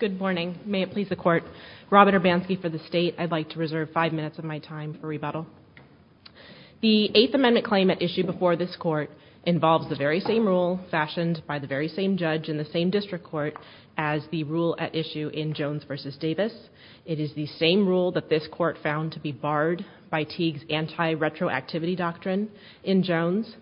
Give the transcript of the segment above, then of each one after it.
Good morning. May it please the court. Robert Urbanski for the state. I'd like to reserve five minutes of my time for rebuttal. The Eighth Amendment claim at issue before this court involves the very same rule fashioned by the very same judge in the same district court as the rule at issue in Jones v. Davis. It is the same rule that this court found to be barred by Teague's anti-retroactivity doctrine in Jones.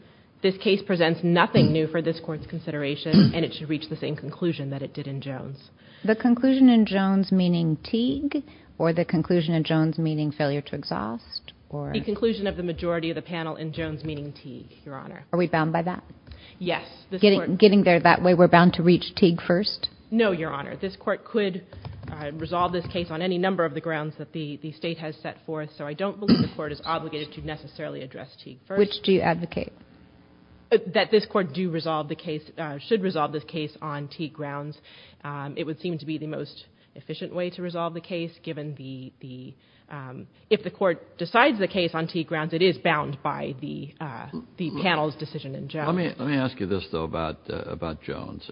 This case presents nothing new for this court's consideration, and it should reach the same conclusion that it did in Jones. The conclusion in Jones meaning Teague, or the conclusion in Jones meaning failure to exhaust? The conclusion of the majority of the panel in Jones meaning Teague, Your Honor. Are we bound by that? Yes. Getting there that way, we're bound to reach Teague first? No, Your Honor. This court could resolve this case on any number of the grounds that the state has set forth, so I don't believe the court is obligated to necessarily address Teague first. Which do you advocate? That this court do resolve the case, should resolve this case on Teague grounds. It would seem to be the most efficient way to resolve the case given the, if the court decides the case on Teague grounds, it is bound by the panel's decision in Jones. Let me ask you this, though, about Jones.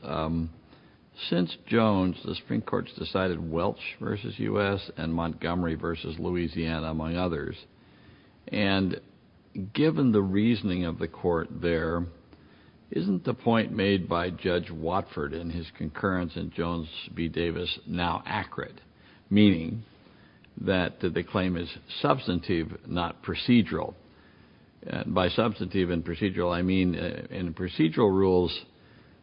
Since Jones, the Supreme Court's decided Welch versus U.S. and Montgomery versus Louisiana, among others, and given the reasoning of the court there, isn't the point made by Judge Watford in his concurrence in Jones v. Davis now accurate, meaning that the claim is substantive, not procedural? By substantive and procedural, I mean procedural rules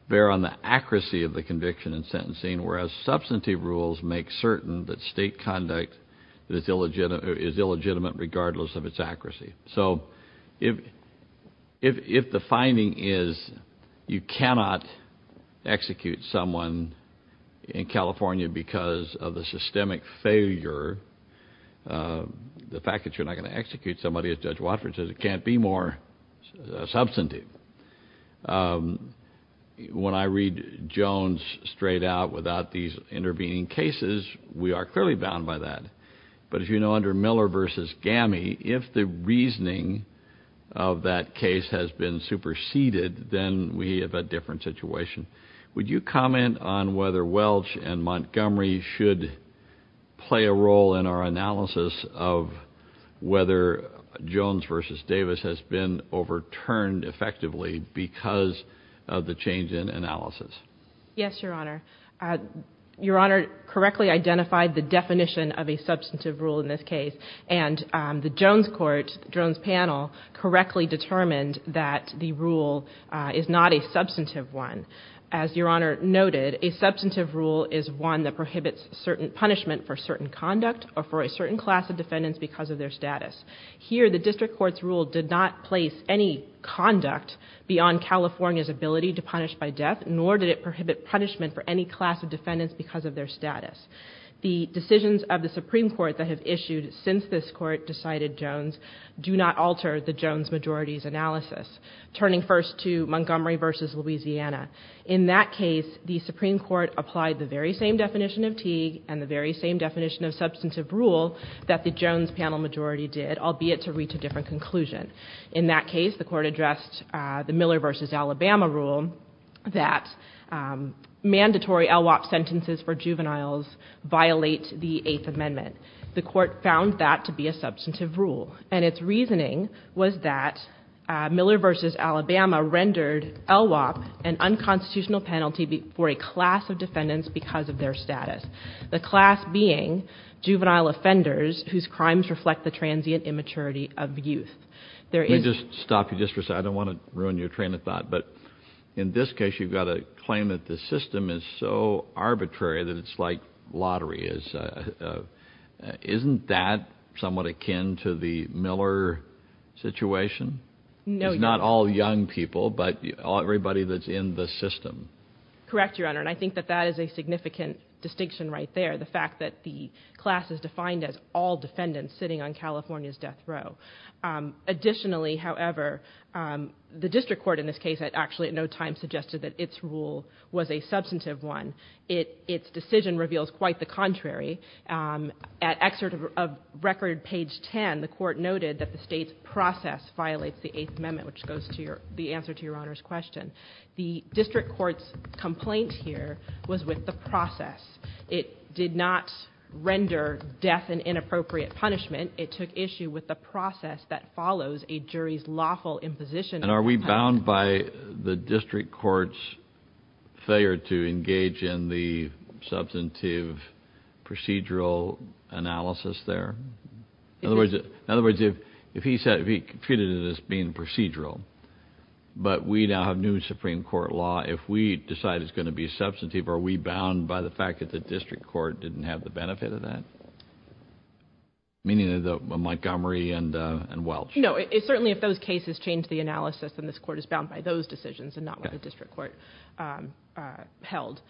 bear on the accuracy of the conviction and sentencing, whereas substantive rules make certain that state conduct is illegitimate regardless of its accuracy. So, if the finding is you cannot execute someone in California because of the systemic failure, the fact that you're not going to execute somebody as Judge Watford says, it can't be more substantive. When I read Jones' statement, I don't think it's made out without these intervening cases. We are clearly bound by that. But, as you know, under Miller v. Gammie, if the reasoning of that case has been superseded, then we have a different situation. Would you comment on whether Welch and Montgomery should play a role in our analysis of whether Jones v. Davis has been overturned effectively because of the change in analysis? Yes, Your Honor. Your Honor correctly identified the definition of a substantive rule in this case, and the Jones Court, Jones panel, correctly determined that the rule is not a substantive one. As Your Honor noted, a substantive rule is one that prohibits certain punishment for certain conduct or for a certain class of defendants because of their status. Here, the District Court's rule did not place any conduct beyond California's ability to punish by death, nor did it prohibit punishment for any class of defendants because of their status. The decisions of the Supreme Court that have issued since this Court decided Jones do not alter the Jones majority's analysis, turning first to Montgomery v. Louisiana. In that case, the Supreme Court applied the very same definition of Teague and the very same definition of substantive rule that the Jones panel majority did, albeit to reach a different conclusion. In that case, the Court addressed the Miller v. Alabama rule that mandatory LWOP sentences for juveniles violate the Eighth Amendment. The Court found that to be a substantive rule, and its reasoning was that Miller v. Alabama rendered LWOP an unconstitutional penalty for a class of defendants because of their status, the class being juvenile offenders whose crimes reflect the transient immaturity of youth. Let me just stop you just for a second. I don't want to ruin your train of thought, but in this case, you've got a claim that the system is so arbitrary that it's like lottery. Isn't that somewhat akin to the Miller situation? No, Your Honor. I think that that is a significant distinction right there, the fact that the class is defined as all defendants sitting on California's death row. Additionally, however, the District Court in this case actually at no time suggested that its rule was a substantive one. Its decision reveals quite the contrary. At excerpt of record page 10, the Court noted that the state's decision was a substantive one. The District Court's complaint here was with the process. It did not render death an inappropriate punishment. It took issue with the process that follows a jury's lawful imposition. Are we bound by the District Court's failure to engage in the substantive procedural analysis there? In other words, if he treated it as being procedural, but we now have new Supreme Court law, if we decide it's going to be substantive, are we bound by the fact that the District Court didn't have the benefit of that? Meaning the Montgomery and Welch? No. Certainly, if those cases change the analysis, then this Court is bound by those decisions and not what the District Court held.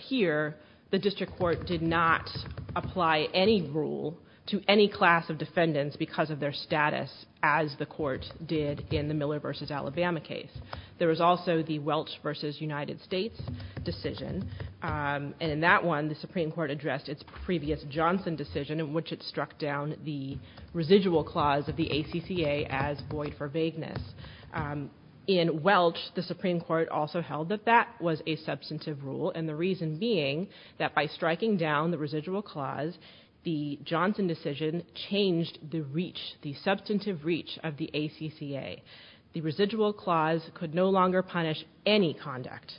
Here, the District Court did not apply any rule to any class of defendants because of their status as the Court did in the Miller v. Alabama case. There was also the Welch v. United States decision. In that one, the Supreme Court addressed its previous Johnson decision in which it struck down the residual clause of the ACCA as void for vagueness. In Welch, the Supreme Court also held that that was a substantive rule and the reason being that by striking down the residual clause, the Johnson decision changed the substantive reach of the ACCA. The residual clause could no longer punish any conduct.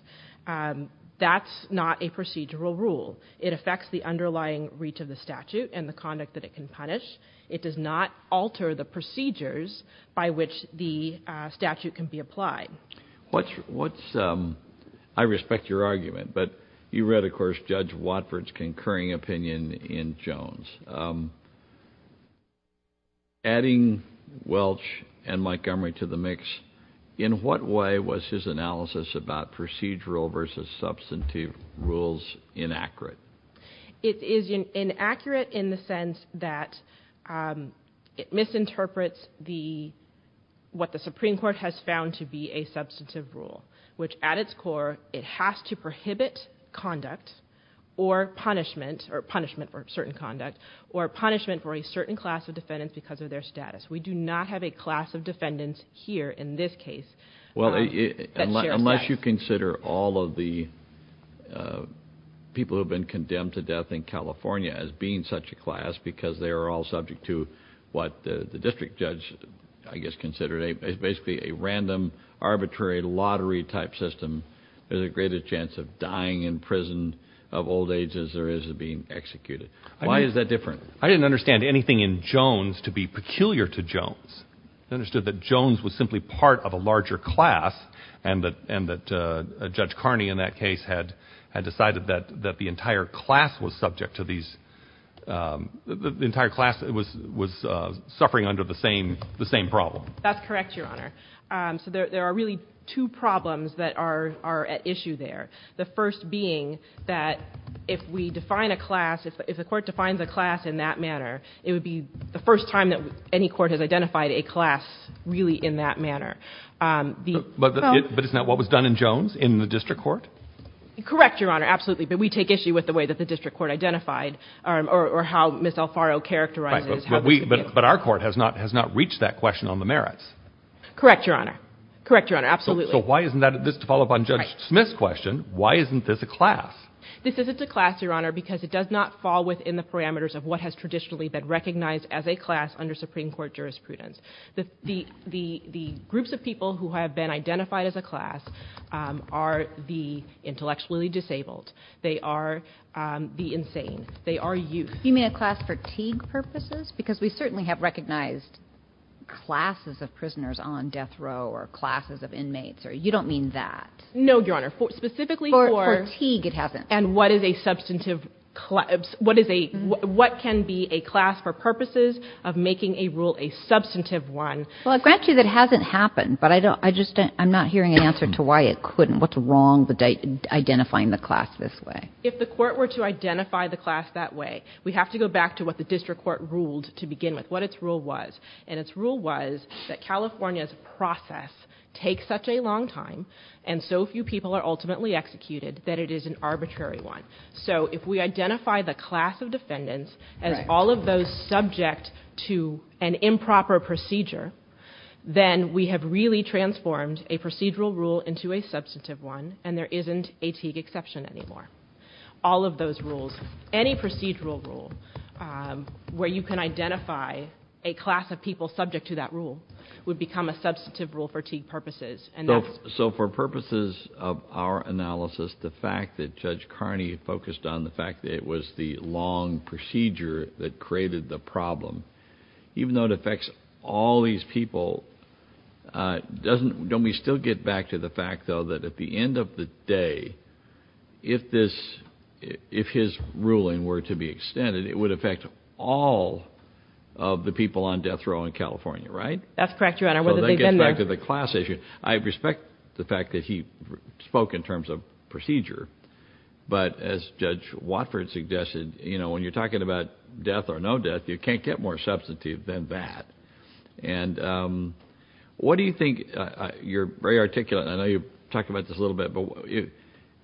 That's not a procedural rule. It affects the underlying reach of the statute and the conduct that it can punish. It does not alter the procedures by which the statute can be applied. I respect your argument, but you read, of course, Judge Watford's concurring opinion in Jones. Adding Welch and Montgomery to the mix, in what way was his analysis about procedural versus substantive rules inaccurate? It is inaccurate in the sense that it misinterprets what the Supreme Court has failed to do in what is found to be a substantive rule, which at its core, it has to prohibit conduct or punishment, or punishment for certain conduct, or punishment for a certain class of defendants because of their status. We do not have a class of defendants here in this case that shares that. Unless you consider all of the people who have been condemned to death in California as being such a class because they are all subject to what the district judge, I guess, considered basically a random, arbitrary, lottery-type system, there's a greater chance of dying in prison of old age than there is of being executed. Why is that different? I didn't understand anything in Jones to be peculiar to Jones. I understood that Jones was simply part of a larger class and that Judge Carney, in that case, had decided that the entire class was subject to these, the entire class was suffering under the same problem. That's correct, Your Honor. So there are really two problems that are at issue there. The first being that if we define a class, if the court defines a class in that manner, it would be the first time that any court has identified a class really in that manner. But isn't that what was done in Jones in the district court? Correct, Your Honor, absolutely. But we take issue with the way that the district court identified or how Ms. Alfaro characterized it. But our court has not reached that question on the merits. Correct, Your Honor. Correct, Your Honor, absolutely. So why isn't that, just to follow up on Judge Smith's question, why isn't this a class? This isn't a class, Your Honor, because it does not fall within the parameters of what has traditionally been recognized as a class under Supreme Court jurisprudence. The groups of people who have been identified as a class are the intellectually disabled, they are the insane, they are youth. You mean a class for Teague purposes? Because we certainly have recognized classes of prisoners on death row or classes of inmates. You don't mean that. No, Your Honor. Specifically for Teague, it hasn't. And what is a substantive, what can be a class for purposes of making a rule a substantive one? Well, I'll grant you that hasn't happened, but I'm not hearing an answer to why it couldn't. What's wrong with identifying the class this way? If the court were to identify the class that way, we have to go back to what the district court ruled to begin with, what its rule was. And its rule was that California's process takes such a long time, and so few people are ultimately executed, that it is an arbitrary one. So if we identify the class of defendants as all of those subject to an improper procedure, then we have really transformed a procedural rule into a substantive one, and there isn't a Teague exception anymore. All of those rules, any procedural rule, where you can identify a class of people subject to that rule, would become a substantive rule for Teague purposes. So for purposes of our analysis, the fact that Judge Carney focused on the fact that it was the long procedure that created the problem, even though it affects all these people, don't we still get back to the fact, though, that at the end of the day, if his ruling were to be extended, it would affect all of the people on death row in California, right? That's correct, Your Honor. So that gets back to the class issue. I respect the fact that he spoke in terms of procedure, but as Judge Watford suggested, when you're talking about death or no death, you can't get more substantive than that. And what do you think, you're very articulate, and I know you've talked about this a little bit, but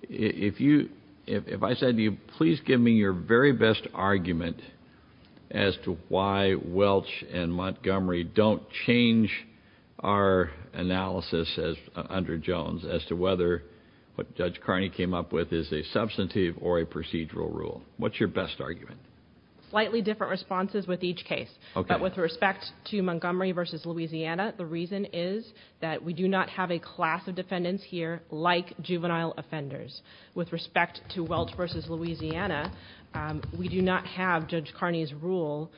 if I said, please give me your very best argument as to why Welch and Montgomery don't change our analysis under Jones as to whether what Judge Carney came up with is a substantive or a procedural rule. What's your best argument? Slightly different responses with each case. Okay. But with respect to Montgomery v. Louisiana, the reason is that we do not have a class of defendants here like juvenile offenders. With respect to Welch v. Louisiana, we do not have Judge Carney's rule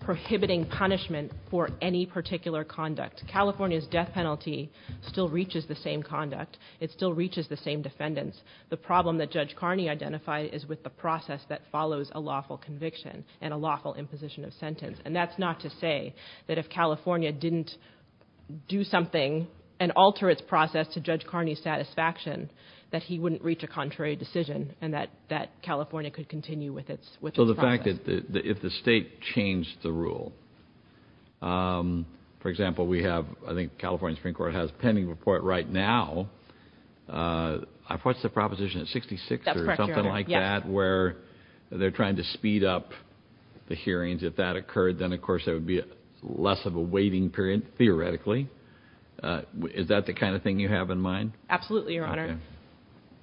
prohibiting punishment for any particular conduct. California's death penalty still reaches the same conduct. It still reaches the same defendants. The problem that Judge Carney identified is with the process that follows a lawful conviction and a lawful imposition of sentence. And that's not to say that if California didn't do something and alter its process to Judge Carney's satisfaction, that he wouldn't reach a contrary decision and that California could continue with its process. So the fact that if the state changed the rule, for example, we have, I think, a proposition at 66 or something like that where they're trying to speed up the hearings. If that occurred, then of course there would be less of a waiting period, theoretically. Is that the kind of thing you have in mind? Absolutely, Your Honor.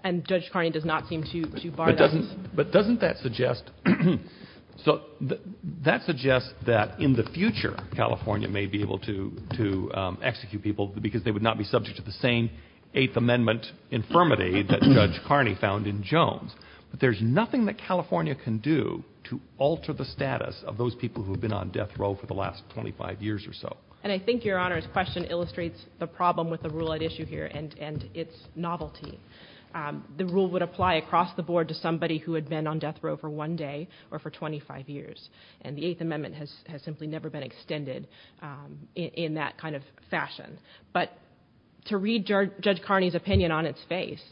And Judge Carney does not seem to bar that. But doesn't that suggest that in the future, California may be able to execute people because they would not be subject to the same Eighth Amendment infirmity that Judge Carney found in Jones. But there's nothing that California can do to alter the status of those people who have been on death row for the last 25 years or so. And I think Your Honor's question illustrates the problem with the rule at issue here and its novelty. The rule would apply across the board to somebody who had been on death row for one day or for 25 years. And the Eighth Amendment has simply never been extended in that kind of fashion. But to read Judge Carney's opinion on its face,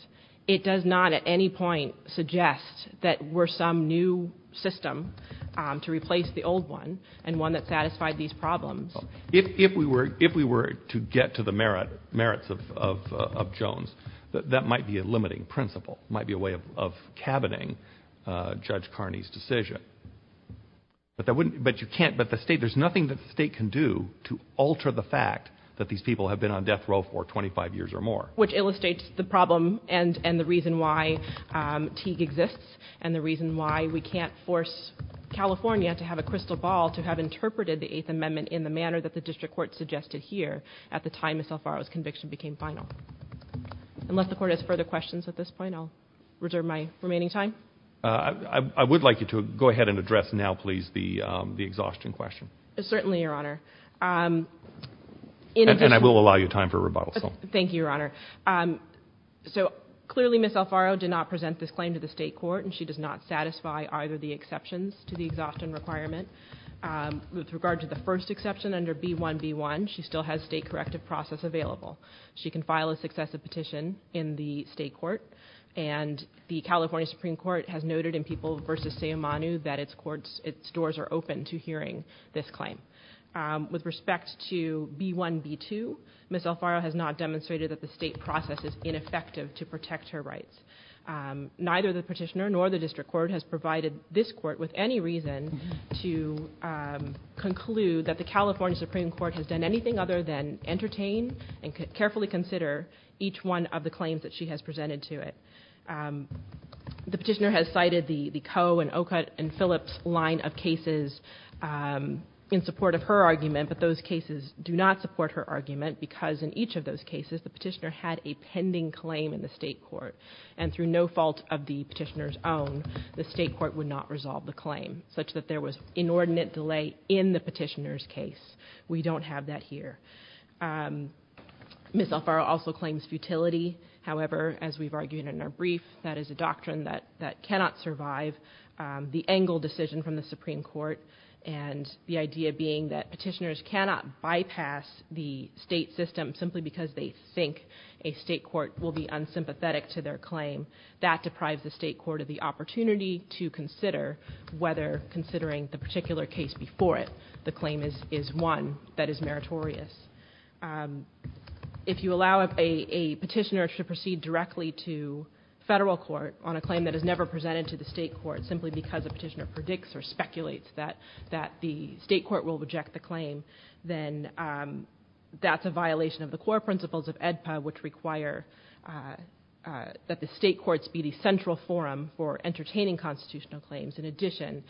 it does not at any point suggest that we're some new system to replace the old one and one that satisfied these problems. If we were to get to the merits of Jones, that might be a limiting principle. It might be a way of cabining Judge Carney's decision. But there's nothing that the state can do to alter the fact that these people have been on death row for 25 years or more. Which illustrates the problem and the reason why Teague exists and the reason why we can't force California to have a crystal ball to have interpreted the Eighth Amendment in the manner that the district court suggested here at the time of Salfaro's conviction became final. Unless the court has further questions at this point, I'll reserve my remaining time. I would like you to go ahead and address now, please, the exhaustion question. Certainly, Your Honor. And I will allow you time for rebuttal. Thank you, Your Honor. So clearly, Ms. Salfaro did not present this claim to the state court and she does not satisfy either of the exceptions to the exhaustion requirement. With regard to the first exception under B1B1, she still has state corrective process available. She can file a successive petition in the state court and the California Supreme Court has noted in People v. Seamanu that its doors are open to hearing this claim. With respect to B1B2, Ms. Salfaro has not demonstrated that the state process is ineffective to protect her rights. Neither the petitioner nor the district court has provided this court with any reason to conclude that the California Supreme Court has done anything other than entertain and carefully consider each one of the claims that she has presented to it. The petitioner has cited the Coe and Ocutt and Phillips line of cases in support of her argument, but those cases do not support her argument because in each of those cases, the petitioner had a pending claim in the state court and through no fault of the petitioner's own, the state court would not resolve the claim such that there was inordinate delay in the petitioner's case. We don't have that here. Ms. Salfaro also claims futility, however, as we've argued in our brief, that is a doctrine that cannot survive the Engle decision from the Supreme Court and the idea being that petitioners cannot bypass the state system simply because they think a state court will be unsympathetic to their claim. That deprives the state court of the opportunity to consider whether considering the particular case before it, the claim is one that is meritorious. If you allow a petitioner to proceed directly to federal court on a claim that is never presented to the state court simply because a petitioner predicts or speculates that the state court will reject the claim, then that's a violation of the core principles of AEDPA, which require that the state courts be the central forum for entertaining constitutional claims. In addition,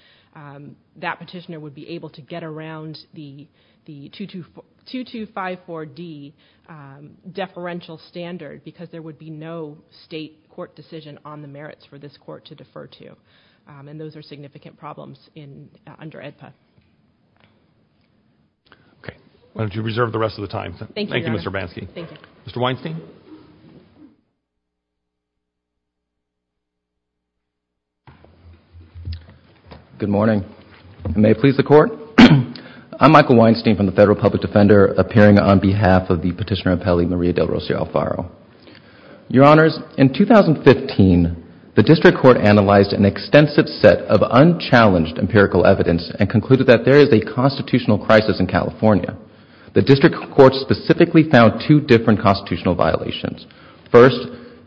that petitioner would be able to get around the 2254D deferential standard because there would be no state court decision on the merits for this court to defer to. And those are significant problems under AEDPA. Okay. Why don't you reserve the rest of the time. Thank you, Mr. Bansky. Mr. Weinstein? Good morning. May it please the Court? I'm Michael Weinstein from the Federal Public Defender, appearing on behalf of the petitioner appellee, Maria del Rosario Alfaro. Your Honors, in 2015, the District Court analyzed an extensive set of unchallenged empirical evidence and concluded that there is a constitutional crisis in California. The District Court specifically found two different constitutional violations. First,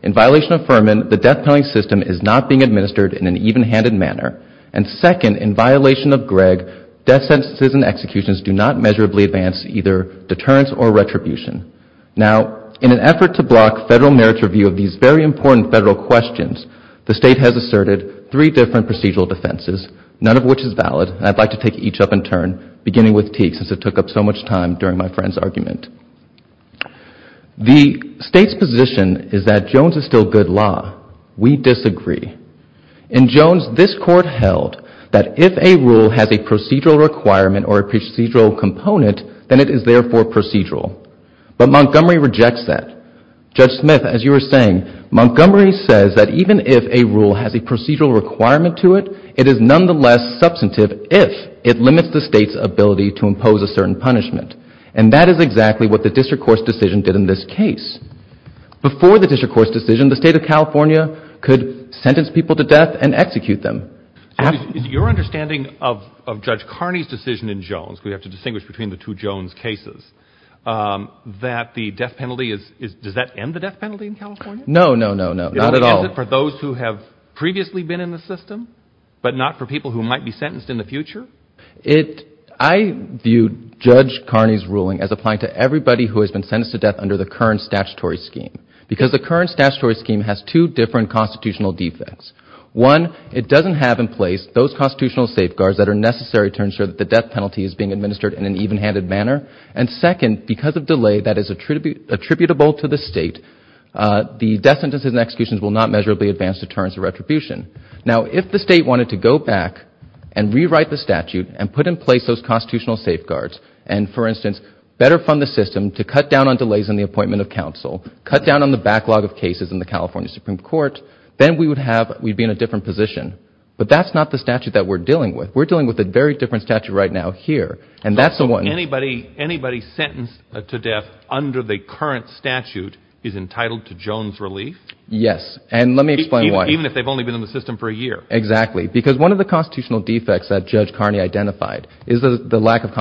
in violation of Furman, the death penalty system is not being administered in an even-handed manner. And second, in violation of Gregg, death sentences and executions do not measurably advance either deterrence or retribution. Now, in an effort to block federal merits review of these very important federal questions, the State has asserted three different procedural defenses, none of which is valid. I'd like to take each up in turn, beginning with Teague, since it took up so much time during my friend's argument. The State's position is that Jones is still good law. We disagree. In Jones, this Court held that if a rule has a procedural requirement or a procedural component, then it is therefore procedural. But Montgomery rejects that. Judge Smith, as you were saying, Montgomery says that even if a rule has a procedural requirement to it, it is nonetheless substantive if it limits the State's ability to impose a certain punishment. And that is exactly what the District Court's decision did in this case. Before the District Court's decision, the State of California could sentence people to death and execute them. Your understanding of Judge Carney's decision in Jones, because we have to distinguish between the two Jones cases, that the death penalty is does that end the death penalty in California? No, no, no, no, not at all. Is it for those who have previously been in the system, but not for people who might be sentenced in the future? I view Judge Carney's ruling as applying to everybody who has been sentenced to death under the current statutory scheme. Because the current statutory scheme has two different constitutional defects. One, it doesn't have in place those constitutional safeguards that are necessary to ensure that the death penalty is being administered in an even-handed manner. And second, because of delay that is attributable to the State, the death sentences and executions will not measurably advance deterrence or retribution. Now, if the State wanted to go back and rewrite the statute and put in place those better fund the system to cut down on delays in the appointment of counsel, cut down on the backlog of cases in the California Supreme Court, then we would have, we'd be in a different position. But that's not the statute that we're dealing with. We're dealing with a very different statute right now here. And that's the one... So anybody sentenced to death under the current statute is entitled to Jones relief? Yes. And let me explain why. Even if they've only been in the system for a year? Exactly. Because one of the constitutional defects that Judge Carney identified is the lack of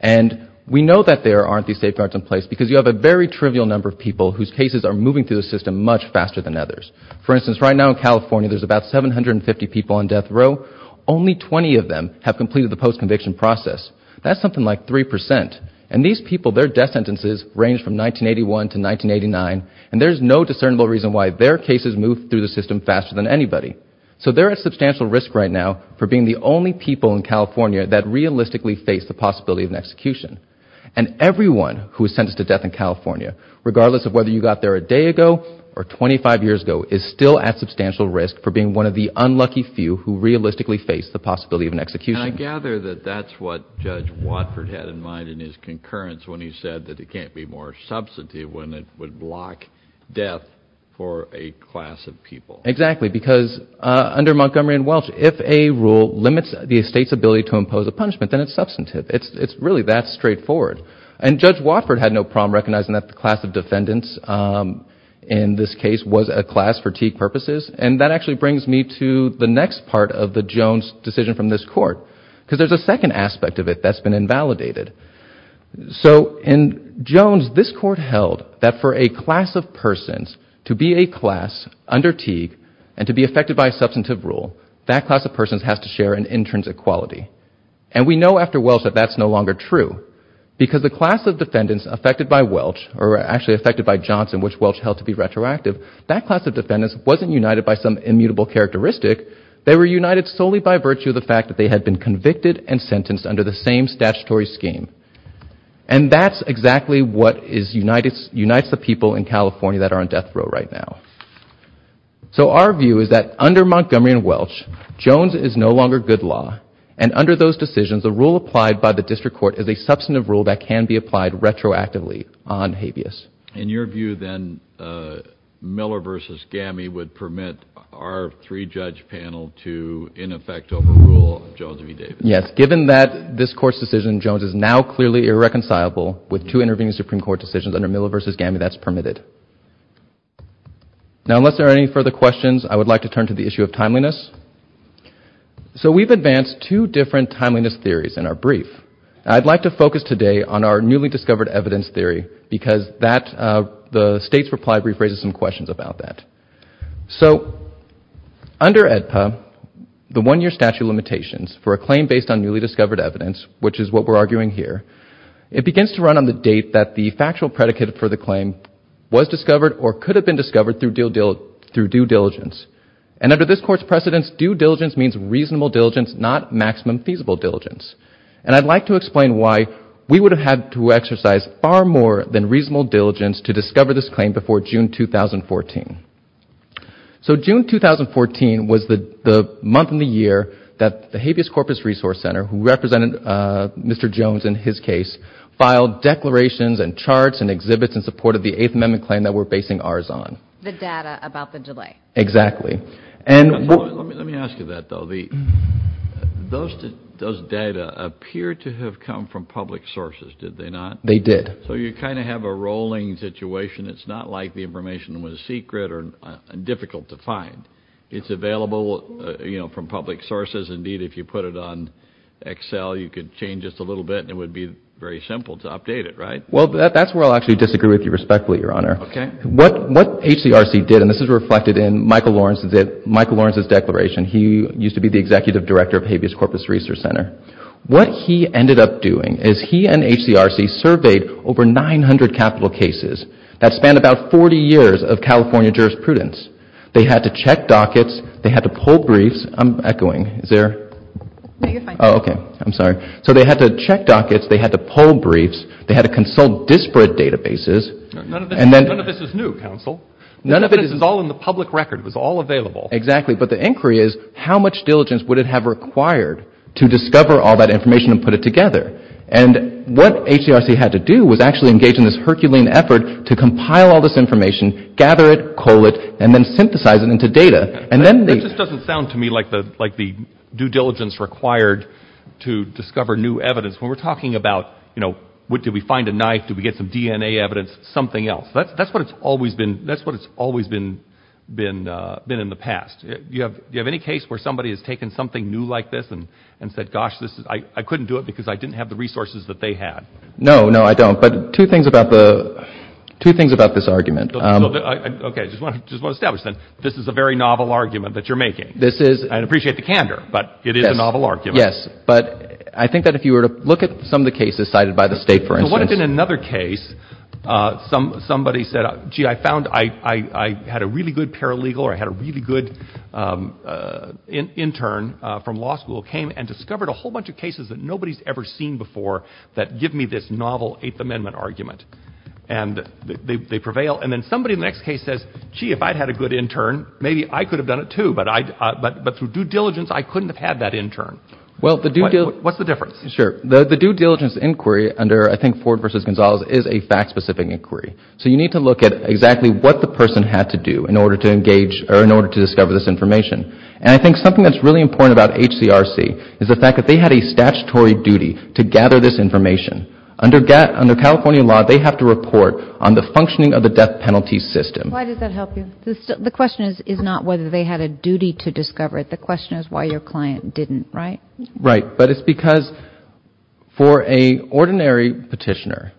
And we know that there aren't these safeguards in place because you have a very trivial number of people whose cases are moving through the system much faster than others. For instance, right now in California there's about 750 people on death row. Only 20 of them have completed the post-conviction process. That's something like 3%. And these people, their death sentences range from 1981 to 1989, and there's no discernible reason why their cases move through the system faster than anybody. So they're at substantial risk right now for being the only people in California that realistically face the possibility of an execution. And everyone who is sentenced to death in California, regardless of whether you got there a day ago or 25 years ago, is still at substantial risk for being one of the unlucky few who realistically face the possibility of an execution. And I gather that that's what Judge Watford had in mind in his concurrence when he said that it can't be more substantive when it would block death for a class of people. Exactly. Because under Montgomery and Welch, if a class of people has to pose a punishment, then it's substantive. It's really that straightforward. And Judge Watford had no problem recognizing that the class of defendants in this case was a class for Teague purposes. And that actually brings me to the next part of the Jones decision from this Court, because there's a second aspect of it that's been invalidated. So in Jones, this Court held that for a class of persons to be a class under Teague and to be affected by a substantive rule, that class of defendants had to be united. And we know after Welch that that's no longer true. Because the class of defendants affected by Welch, or actually affected by Johnson, which Welch held to be retroactive, that class of defendants wasn't united by some immutable characteristic. They were united solely by virtue of the fact that they had been convicted and sentenced under the same statutory scheme. And that's exactly what unites the people in California that are on death row right now. So our view is that under Montgomery and Welch, Jones is no longer good law. And under those decisions, a rule applied by the District Court is a substantive rule that can be applied retroactively on habeas. In your view, then, Miller v. Gamme would permit our three-judge panel to, in effect, overrule Jones v. Davis. Yes. Given that this Court's decision, Jones is now clearly irreconcilable with two intervening Supreme Court decisions under Miller v. Gamme that's permitted. Now, unless there are any further questions, I would like to turn to the issue of timeliness. So we've advanced two different timeliness theories in our brief. I'd like to focus today on our newly discovered evidence theory, because the State's reply brief raises some questions about that. So under EDPA, the one-year statute of limitations for a claim based on newly discovered evidence, which is what we're arguing here, it begins to run on the date that the claim was discovered or could have been discovered through due diligence. And under this Court's precedence, due diligence means reasonable diligence, not maximum feasible diligence. And I'd like to explain why we would have had to exercise far more than reasonable diligence to discover this claim before June 2014. So June 2014 was the month in the year that the Habeas Corpus Resource Center, who represented Mr. Jones in his case, filed declarations and made a claim that we're basing ours on. The data about the delay. Exactly. Let me ask you that, though. Those data appear to have come from public sources, did they not? They did. So you kind of have a rolling situation. It's not like the information was secret or difficult to find. It's available from public sources. Indeed, if you put it on Excel, you could change just a little bit, and it would be very simple to update it, right? Well, that's where I'll actually disagree with you respectfully, Your Honor. What HCRC did, and this is reflected in Michael Lawrence's declaration. He used to be the Executive Director of Habeas Corpus Resource Center. What he ended up doing is he and HCRC surveyed over 900 capital cases that spanned about 40 years of California jurisprudence. They had to check dockets. They had to pull briefs. I'm echoing. Is there? No, you're fine. Oh, okay. I'm sorry. So they had to check dockets. They had to pull briefs. They had to consult disparate databases. None of this is new, counsel. None of this is all in the public record. It was all available. Exactly. But the inquiry is how much diligence would it have required to discover all that information and put it together? And what HCRC had to do was actually engage in this Herculean effort to compile all this information, gather it, cull it, and then synthesize it into data. That just doesn't sound to me like the due diligence required to discover new evidence. When we're talking about, you know, did we find a knife? Did we get some DNA evidence? Something else. That's what it's always been in the past. Do you have any case where somebody has taken something new like this and said, gosh, I couldn't do it because I didn't have the resources that they had? No, no, I don't. But two things about this argument. Okay. I just want to establish then, this is a very novel argument that you're making. I appreciate the candor, but it is a novel argument. Yes, but I think that if you were to look at some of the cases cited by the state, for instance. So what if in another case, somebody said, gee, I found I had a really good paralegal or I had a really good intern from law school came and discovered a whole bunch of cases that nobody's ever seen before that give me this novel Eighth Amendment argument. And they prevail. And then somebody in the next case says, gee, if I'd had a good intern, maybe I could have done it, too. But through due diligence, I couldn't have had that intern. What's the difference? Sure. The due diligence inquiry under, I think, Ford v. Gonzalez is a fact-specific inquiry. So you need to look at exactly what the person had to do in order to engage or in order to discover this information. And I think something that's really important about HCRC is the fact that they had a statutory duty to gather this information. Under California law, they have to report on the functioning of the death penalty system. Why does that help you? The question is not whether they had a duty to discover it. The question is why your client didn't. Right. Right. But it's because for a ordinary petitioner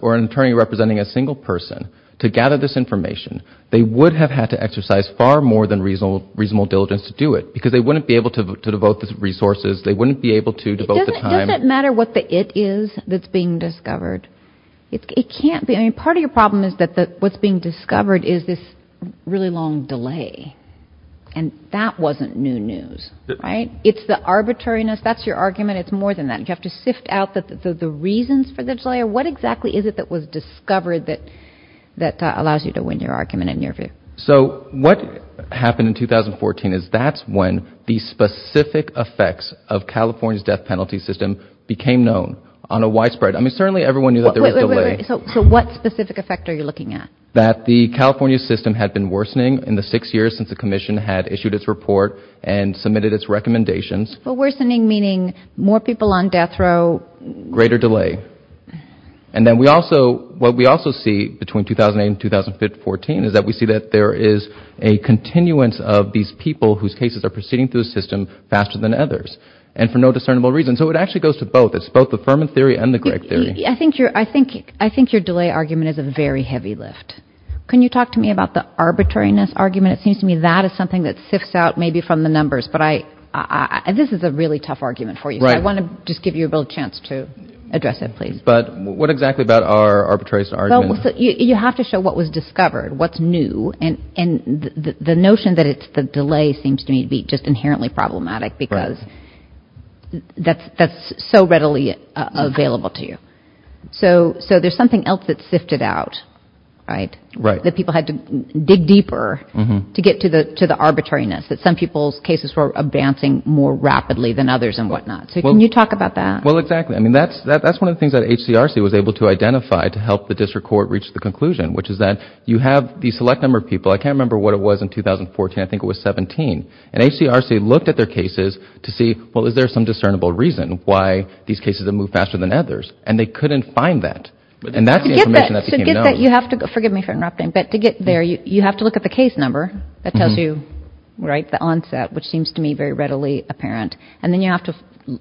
or an attorney representing a single person to gather this information, they would have had to exercise far more than reasonable diligence to do it because they wouldn't be able to devote the resources. They wouldn't be able to devote the time. Does it matter what the it is that's being discovered? It can't be. Part of your problem is that what's being discovered is this really long delay. And that wasn't new news. Right. It's the arbitrariness. That's your argument. It's more than that. You have to sift out the reasons for the delay. What exactly is it that was discovered that allows you to win your argument and your view? So what happened in 2014 is that's when the specific effects of California's death penalty system became known on a widespread. I mean, certainly everyone knew that there was delay. So what specific effect are you looking at? That the California system had been worsening in the six years since the commission had issued its report and submitted its recommendations. Well, worsening meaning more people on death row. Greater delay. And then we also what we also see between 2008 and 2014 is that we see that there is a continuance of these people whose cases are proceeding through the system faster than others and for no discernible reason. So it actually goes to both. It's both the Furman theory and the Gregg theory. I think your delay argument is a very heavy lift. Can you talk to me about the arbitrariness argument? It seems to me that is something that sifts out maybe from the numbers. This is a really tough argument for you. I want to just give you a little chance to address it, please. But what exactly about our arbitrariness argument? You have to show what was discovered, what's new. And the notion that it's the delay seems to me to be just inherently problematic because that's so readily available to you. So there's something else that's sifted out, right? That people had to dig deeper to get to the arbitrariness that some people's cases were advancing more rapidly than others and whatnot. So can you talk about that? Well, exactly. I mean, that's one of the things that HCRC was able to identify to help the district court reach the conclusion, which is that you have the select number of people. I can't remember what it was in 2014. I think it was 17. And HCRC looked at their cases to see, well, is there some discernible reason why these cases have moved faster than others? And they couldn't find that. And that's the information that became known. So to get that, you have to, forgive me for interrupting, but to get there, you have to look at the case number that tells you, right, the onset, which seems to me very readily apparent. And then you have to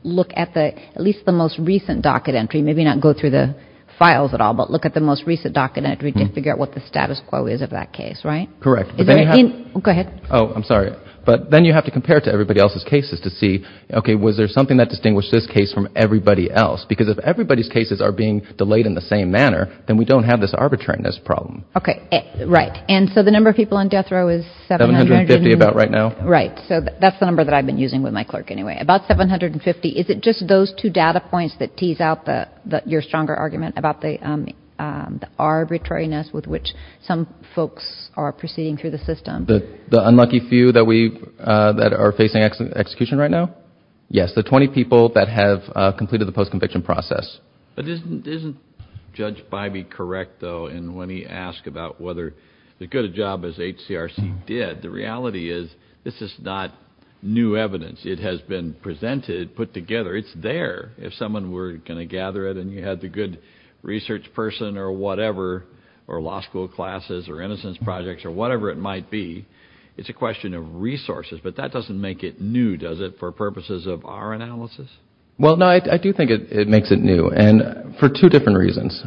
look at the, at least the most recent docket entry, maybe not go through the files at all, but look at the most recent docket entry to figure out what the status quo is of that case, right? Correct. Go ahead. Oh, I'm sorry. But then you have to compare to everybody else's cases to see, okay, was there something that distinguished this case from everybody else? Because if everybody's cases are being delayed in the same manner, then we don't have this arbitrariness problem. Okay. Right. And so the number of people on death row is 750 about right now? Right. So that's the number that I've been using with my clerk anyway. About 750. Is it just those two data points that tease out your stronger argument about the arbitrariness with which some folks are proceeding through the system? The unlucky few that we that are facing execution right now? Yes. The 20 people that have completed the post-conviction process. But isn't Judge Bybee correct, though, in when he asked about whether the good job as HCRC did, the reality is this is not new evidence. It has been presented, put together. It's there. If someone were going to gather it and you had the good research person or whatever or law school classes or innocence projects or whatever it might be, it's a question of resources. But that doesn't make it new, does it, for purposes of our analysis? Well, no, I do think it makes it new and for two different reasons.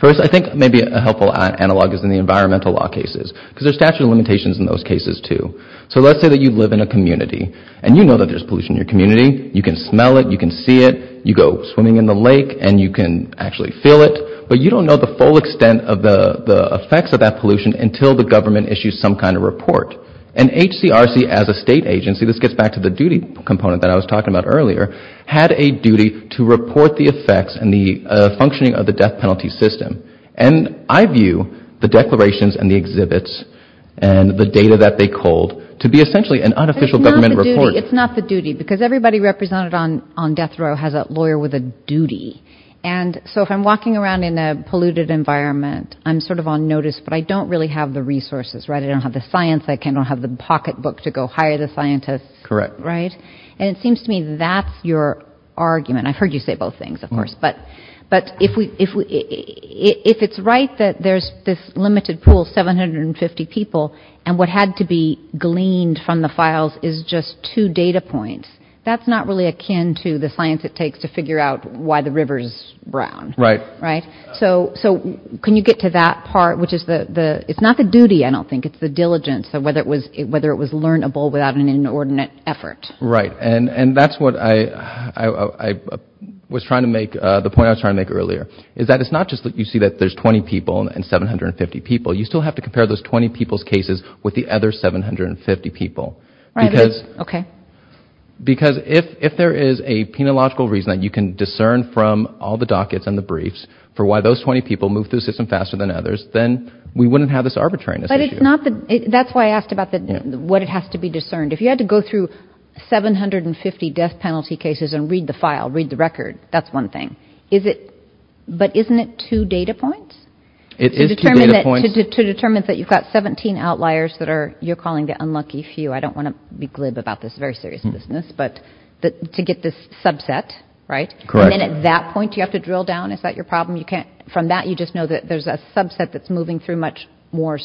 First, I think maybe a helpful analog is in the environmental law cases because there's statute of limitations in those cases, too. So let's say that you live in a community and you know that there's pollution in your community. You can smell it. You can see it. You go swimming in the lake and you can actually feel it. But you don't know the full extent of the effects of that pollution until the government issues some kind of report. And HCRC as a state agency, this gets back to the duty component that I was talking about earlier, had a duty to report the effects and the functioning of the death penalty system. And I view the declarations and the exhibits and the data that they culled to be essentially an unofficial government report. It's not the duty because everybody represented on death here with a duty. And so if I'm walking around in a polluted environment, I'm sort of on notice, but I don't really have the resources. I don't have the science. I don't have the pocketbook to go hire the scientists. And it seems to me that's your argument. I've heard you say both things, of course. But if it's right that there's this limited pool, 750 people, and what had to be gleaned from the files is just two data points, that's not really akin to the science it takes to figure out why the river is brown. Right. So can you get to that part, which is it's not the duty, I don't think, it's the diligence of whether it was learnable without an inordinate effort. Right. And that's what I was trying to make, the point I was trying to make earlier, is that it's not just that you see that there's 20 people and 750 people. You still have to compare those 20 people's cases with the other 750 people. Because if there is a penological reason that you can discern from all the dockets and the briefs for why those 20 people moved through the system faster than others, then we wouldn't have this arbitrariness issue. But that's why I asked about what it has to be discerned. If you had to go through 750 death penalty cases and read the file, read the record, that's one thing. But isn't it two data points? It is two data points. To determine that you've got 17 outliers that are, you're calling the unlucky few, I don't want to be glib about this, it's a very serious business, but to get this subset, right? And then at that point, do you have to drill down? Is that your problem? From that, you just know that there's a subset that's moving through much more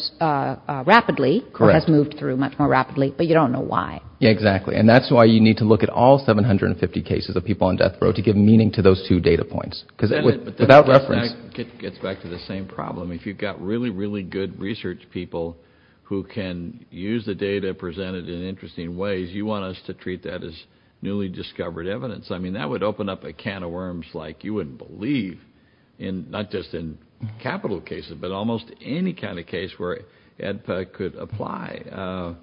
rapidly, or has moved through much more rapidly, but you don't know why. Yeah, exactly. And that's why you need to look at all 750 cases of people on death row to give meaning to those two data points. Without reference... It gets back to the same problem. If you've got really, really good research people who can use the data presented in interesting ways, you want us to treat that as newly discovered evidence. That would open up a can of worms like you wouldn't believe, not just in capital cases, but almost any kind of case where EDPA could apply.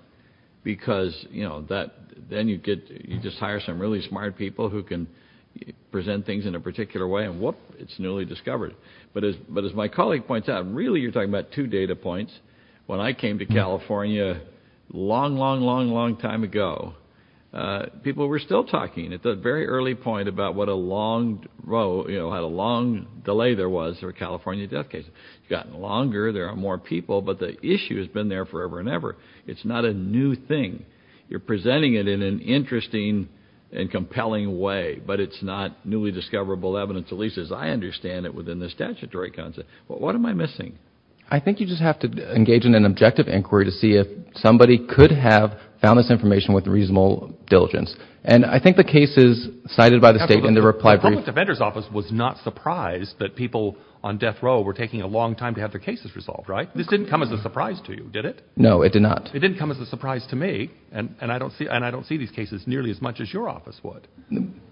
Because then you just hire some really smart people who can present things in a particular way, and whoop, it's newly discovered. But as my two data points, when I came to California a long, long, long, long time ago, people were still talking at the very early point about what a long delay there was for California death cases. It's gotten longer, there are more people, but the issue has been there forever and ever. It's not a new thing. You're presenting it in an interesting and compelling way, but it's not newly discoverable evidence, at least as I understand it within the statutory concept. What am I missing? I think you just have to engage in an objective inquiry to see if somebody could have found this information with reasonable diligence. And I think the cases cited by the state in the reply brief... The public defender's office was not surprised that people on death row were taking a long time to have their cases resolved, right? This didn't come as a surprise to you, did it? No, it did not. It didn't come as a surprise to me, and I don't see these cases nearly as much as your office would.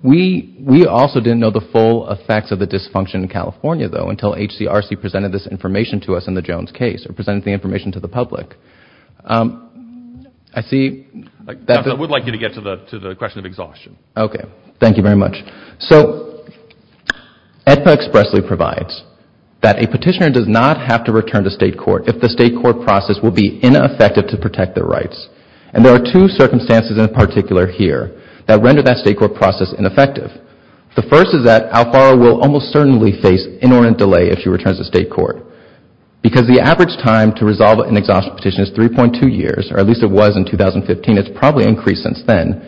We also didn't know the full effects of the dysfunction in California, though, until HCRC presented this information to us in the Jones case, or presented the information to the public. I would like you to get to the question of exhaustion. Thank you very much. So, AEDPA expressly provides that a petitioner does not have to return to state court if the state court process will be ineffective to protect their rights. And there are two circumstances in particular here that render that state court process ineffective. The first is that Alfaro will almost certainly face inordinate delay if she returns to state court. Because the average time to resolve an exhaustion petition is 3.2 years, or at least it was in 2015. It's probably increased since then.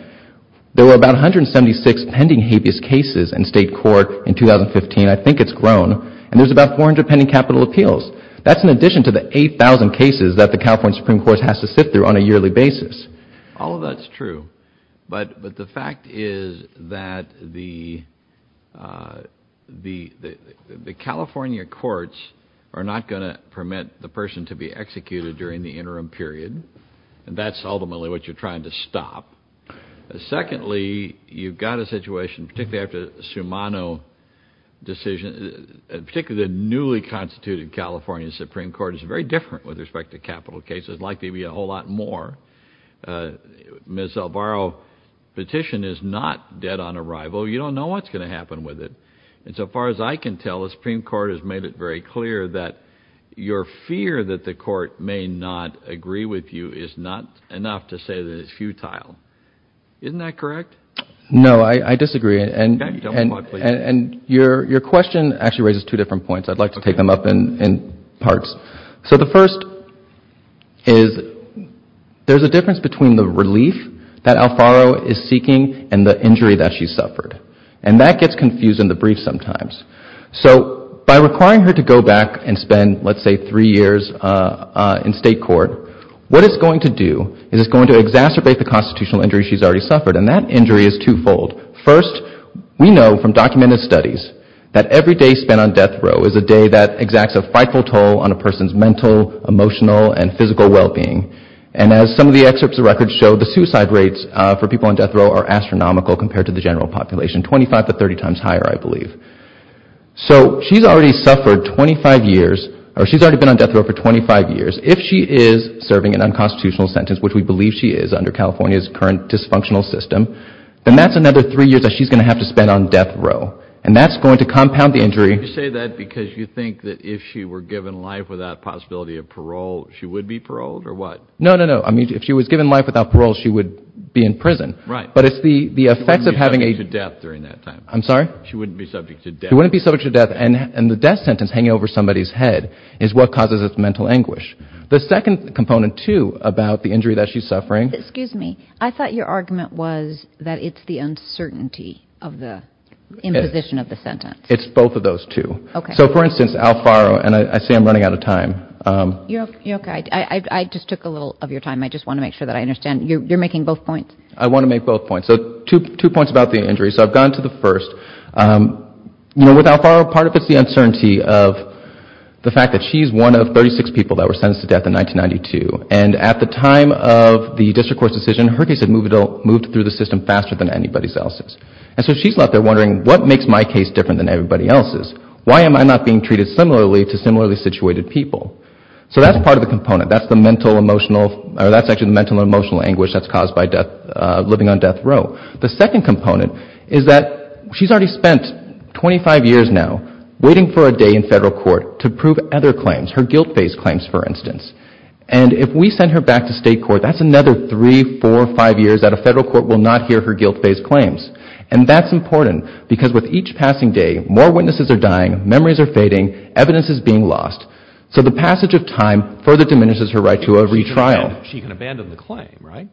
There were about 176 pending habeas cases in state court in 2015. I think it's grown. And there's about 400 pending capital appeals. That's in addition to the 8,000 cases that the California Supreme Court has to sit through on a yearly basis. All of that's true. But the fact is that the California courts are not going to permit the person to be executed during the interim period. And that's ultimately what you're trying to stop. Secondly, you've got a situation, particularly after the Sumano decision, particularly the newly constituted California Supreme Court is very different with respect to capital cases. There's likely to be a whole lot more. Ms. Alfaro's petition is not dead on arrival. You don't know what's going to happen with it. And so far as I can tell, the Supreme Court has made it very clear that your fear that the court may not agree with you is not enough to say that it's futile. Isn't that correct? No, I disagree. And your question actually raises two different points. I'd like to take them up in parts. So the first is there's a difference between the relief that Alfaro is seeking and the injury that she suffered. And that gets confused in the brief sometimes. So by requiring her to go back and spend, let's say, three years in state court, what it's going to do is it's going to exacerbate the constitutional injury she's already suffered. And that injury is two-fold. First, we know from documented studies that every day spent on death row is a day that exacts a frightful toll on a person's mental, emotional, and physical well-being. And as some of the excerpts of records show, the suicide rates for people on death row are astronomical compared to the general population, 25 to 30 times higher, I believe. So she's already suffered 25 years, or she's already been on death row for 25 years. If she is serving an unconstitutional sentence, which we believe she is under California's current dysfunctional system, then that's another three years that she's going to have to spend on death row. And that's going to compound the injury. You say that because you think that if she were given life without possibility of parole, she would be paroled, or what? No, no, no. I mean, if she was given life without parole, she would be in prison. But it's the effects of having a... She wouldn't be subject to death during that time. I'm sorry? She wouldn't be subject to death. She wouldn't be subject to death. And the death sentence hanging over somebody's head is what causes its mental anguish. The second component, too, about the injury that she's suffering... Excuse me. I thought your argument was that it's the uncertainty of the imposition of the sentence. It's both of those two. So for instance, Alfaro, and I say I'm running out of time. You're okay. I just took a little of your time. I just want to make sure that I understand. You're making both points? I want to make both points. So two points about the injury. So I've gone to the first. You know, with Alfaro, part of it's the uncertainty of the fact that she's one of 36 people that were sentenced to death in 1992. And at the time of the district court's decision, her case had moved through the system faster than anybody else's. And so she's left there wondering, what makes my case different than everybody else's? Why am I not being treated similarly to similarly situated people? So that's part of the component. That's the mental emotional anguish that's caused by living on death row. The second component is that she's already spent 25 years now waiting for a day in federal court to prove other claims, her guilt-based claims, for instance. And if we send her back to state court, that's another three, four, five years that a federal court will not hear her guilt-based claims. And that's important, because with each passing day, more witnesses are dying, memories are fading, evidence is being lost. So the passage of time further diminishes her right to a retrial. She can abandon the claim, right?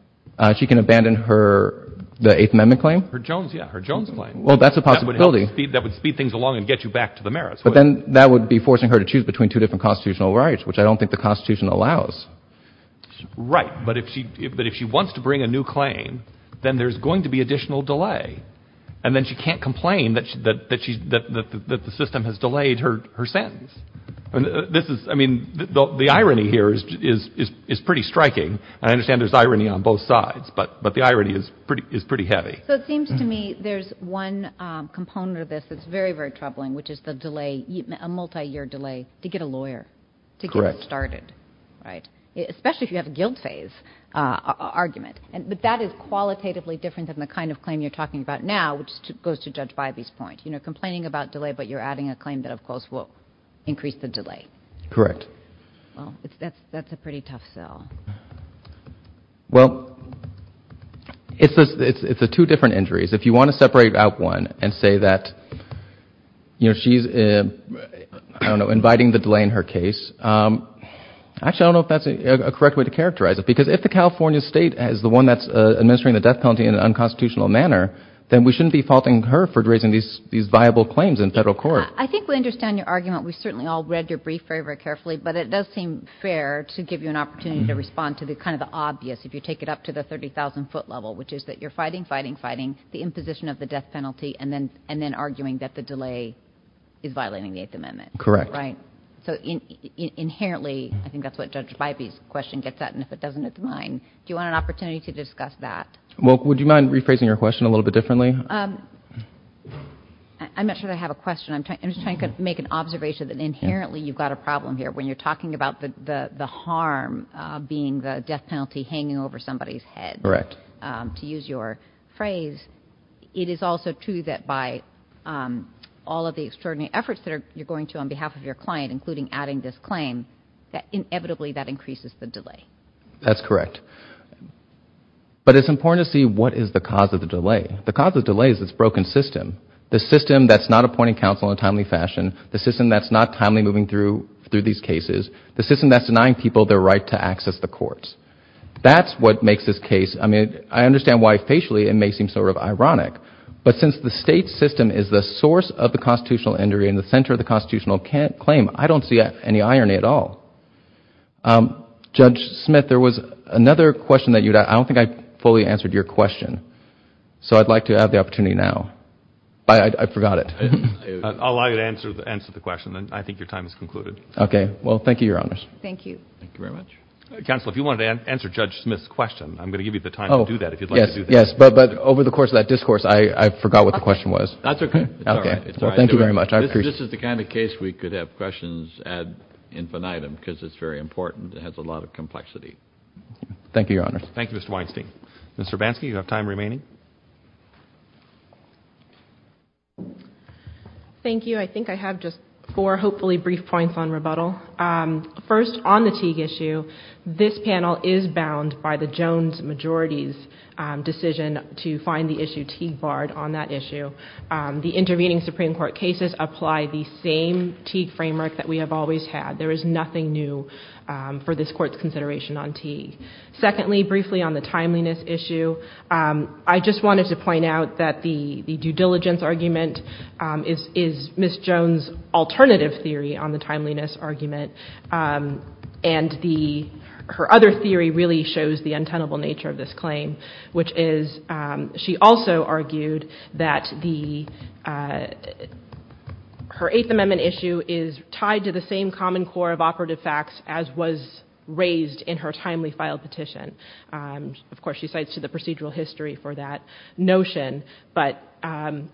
She can abandon her, the Eighth Amendment claim? Her Jones, yeah, her Jones claim. Well, that's a possibility. That would speed things along and get you back to the merits. But then that would be forcing her to choose between two different constitutional rights, which I don't think the Constitution allows. Right. But if she wants to bring a new claim, then there's going to be additional delay. And then she can't complain that the system has delayed her sentence. This is, I mean, the irony here is pretty striking. I understand there's irony on both sides, but the irony is pretty heavy. So it seems to me there's one component of this that's very, very troubling, which is the delay, a multi-year delay to get a lawyer to get it started, right? Especially if you have a guilt phase argument. But that is qualitatively different than the kind of claim you're talking about now, which goes to Judge Bivey's point. Complaining about delay, but you're adding a claim that, of course, will increase the delay. Correct. That's a pretty tough sell. Well, it's the two different injuries. If you want to separate out one and say that she's inviting the delay in her case, actually I don't know if that's a correct way to characterize it. Because if the California State is the one that's administering the death penalty in an unconstitutional manner, then we shouldn't be faulting her for raising these viable claims in federal court. I think we understand your argument. We certainly all read your brief very, very carefully. But it does seem fair to give you an opportunity to respond to kind of the obvious, if you take it up to the 30,000-foot level, which is that you're fighting, fighting, fighting, the imposition of the death penalty, and then arguing that the delay is violating the Eighth Amendment. Correct. Right. So inherently, I think that's what Judge Bybee's question gets at, and if it doesn't, it's mine. Do you want an opportunity to discuss that? Well, would you mind rephrasing your question a little bit differently? I'm not sure that I have a question. I'm just trying to make an observation that inherently you've got a problem here. When you're talking about the harm being the death penalty hanging over somebody's head, to use your phrase, it is also true that by all of the extraordinary efforts that you're going to on behalf of your client, including adding this claim, that inevitably that increases the delay. That's correct. But it's important to see what is the cause of the delay. The cause of the delay is this broken system, the system that's not appointing counsel in a timely fashion, the system that's not timely moving through these cases, the system that's denying people their right to access the courts. That's what makes this case, I mean, I understand why facially it may seem sort of ironic, but since the state system is the constitutional injury and the center of the constitutional claim, I don't see any irony at all. Judge Smith, there was another question that you had. I don't think I fully answered your question. So I'd like to have the opportunity now. I forgot it. I'll allow you to answer the question. I think your time is concluded. Okay. Well, thank you, Your Honors. Thank you. Thank you very much. Counsel, if you wanted to answer Judge Smith's question, I'm going to give you the time to do that if you'd like to do that. Yes, but over the course of that discourse, I forgot what the question was. That's okay. Thank you very much. This is the kind of case we could have questions ad infinitum because it's very important. It has a lot of complexity. Thank you, Your Honors. Thank you, Mr. Weinstein. Mr. Bansky, you have time remaining. Thank you. I think I have just four, hopefully, brief points on rebuttal. First, on the Teague issue, this panel is bound by the Jones majority's decision to find the issue Teague barred on that issue. The intervening Supreme Court cases apply the same Teague framework that we have always had. There is nothing new for this Court's consideration on Teague. Secondly, briefly on the timeliness issue, I just wanted to point out that the due diligence argument is Ms. Jones' alternative theory on the timeliness argument, and her other theory really shows the untenable nature of this argument. She also argued that her Eighth Amendment issue is tied to the same common core of operative facts as was raised in her timely file petition. Of course, she cites to the procedural history for that notion, but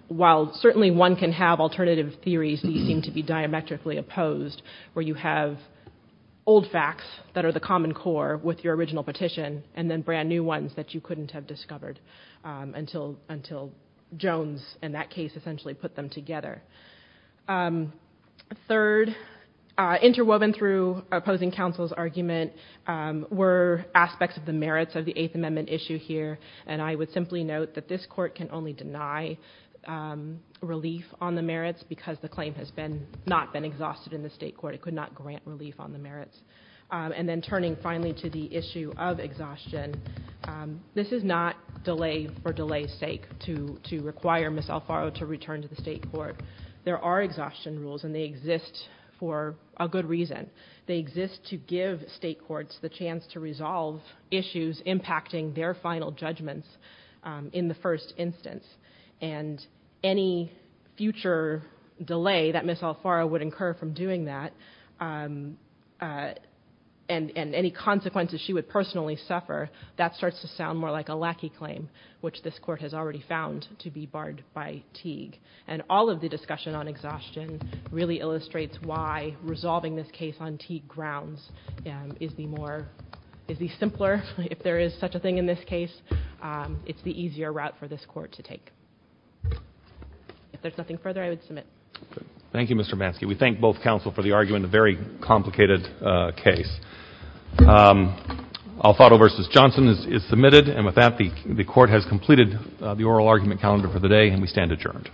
while certainly one can have alternative theories, these seem to be diametrically opposed, where you have old facts that are the common core with your original petition, and then brand new ones that you couldn't have discovered until Jones in that case essentially put them together. Third, interwoven through opposing counsel's argument were aspects of the merits of the Eighth Amendment issue here, and I would simply note that this Court can only deny relief on the merits because the claim has not been exhausted in the State Court. It could not grant relief on the merits. And then turning finally to the issue of exhaustion, this is not delay for delay's sake to require Ms. Alfaro to return to the State Court. There are exhaustion rules, and they exist for a good reason. They exist to give State courts the chance to resolve issues impacting their final judgments in the first instance, and any future delay that Ms. Alfaro would incur from doing that and any consequences she would personally suffer, that starts to sound more like a lackey claim, which this Court has already found to be barred by Teague. And all of the discussion on exhaustion really illustrates why resolving this case on Teague grounds is the simpler, if there is such a thing in this case, it's the easier route for this Court to take. If there's nothing further, I would submit. Thank you, Mr. Manske. We thank both counsel for the argument, a very complicated case. Alfaro v. Johnson is submitted, and with that, the Court has completed the oral argument calendar for the day, and we stand adjourned.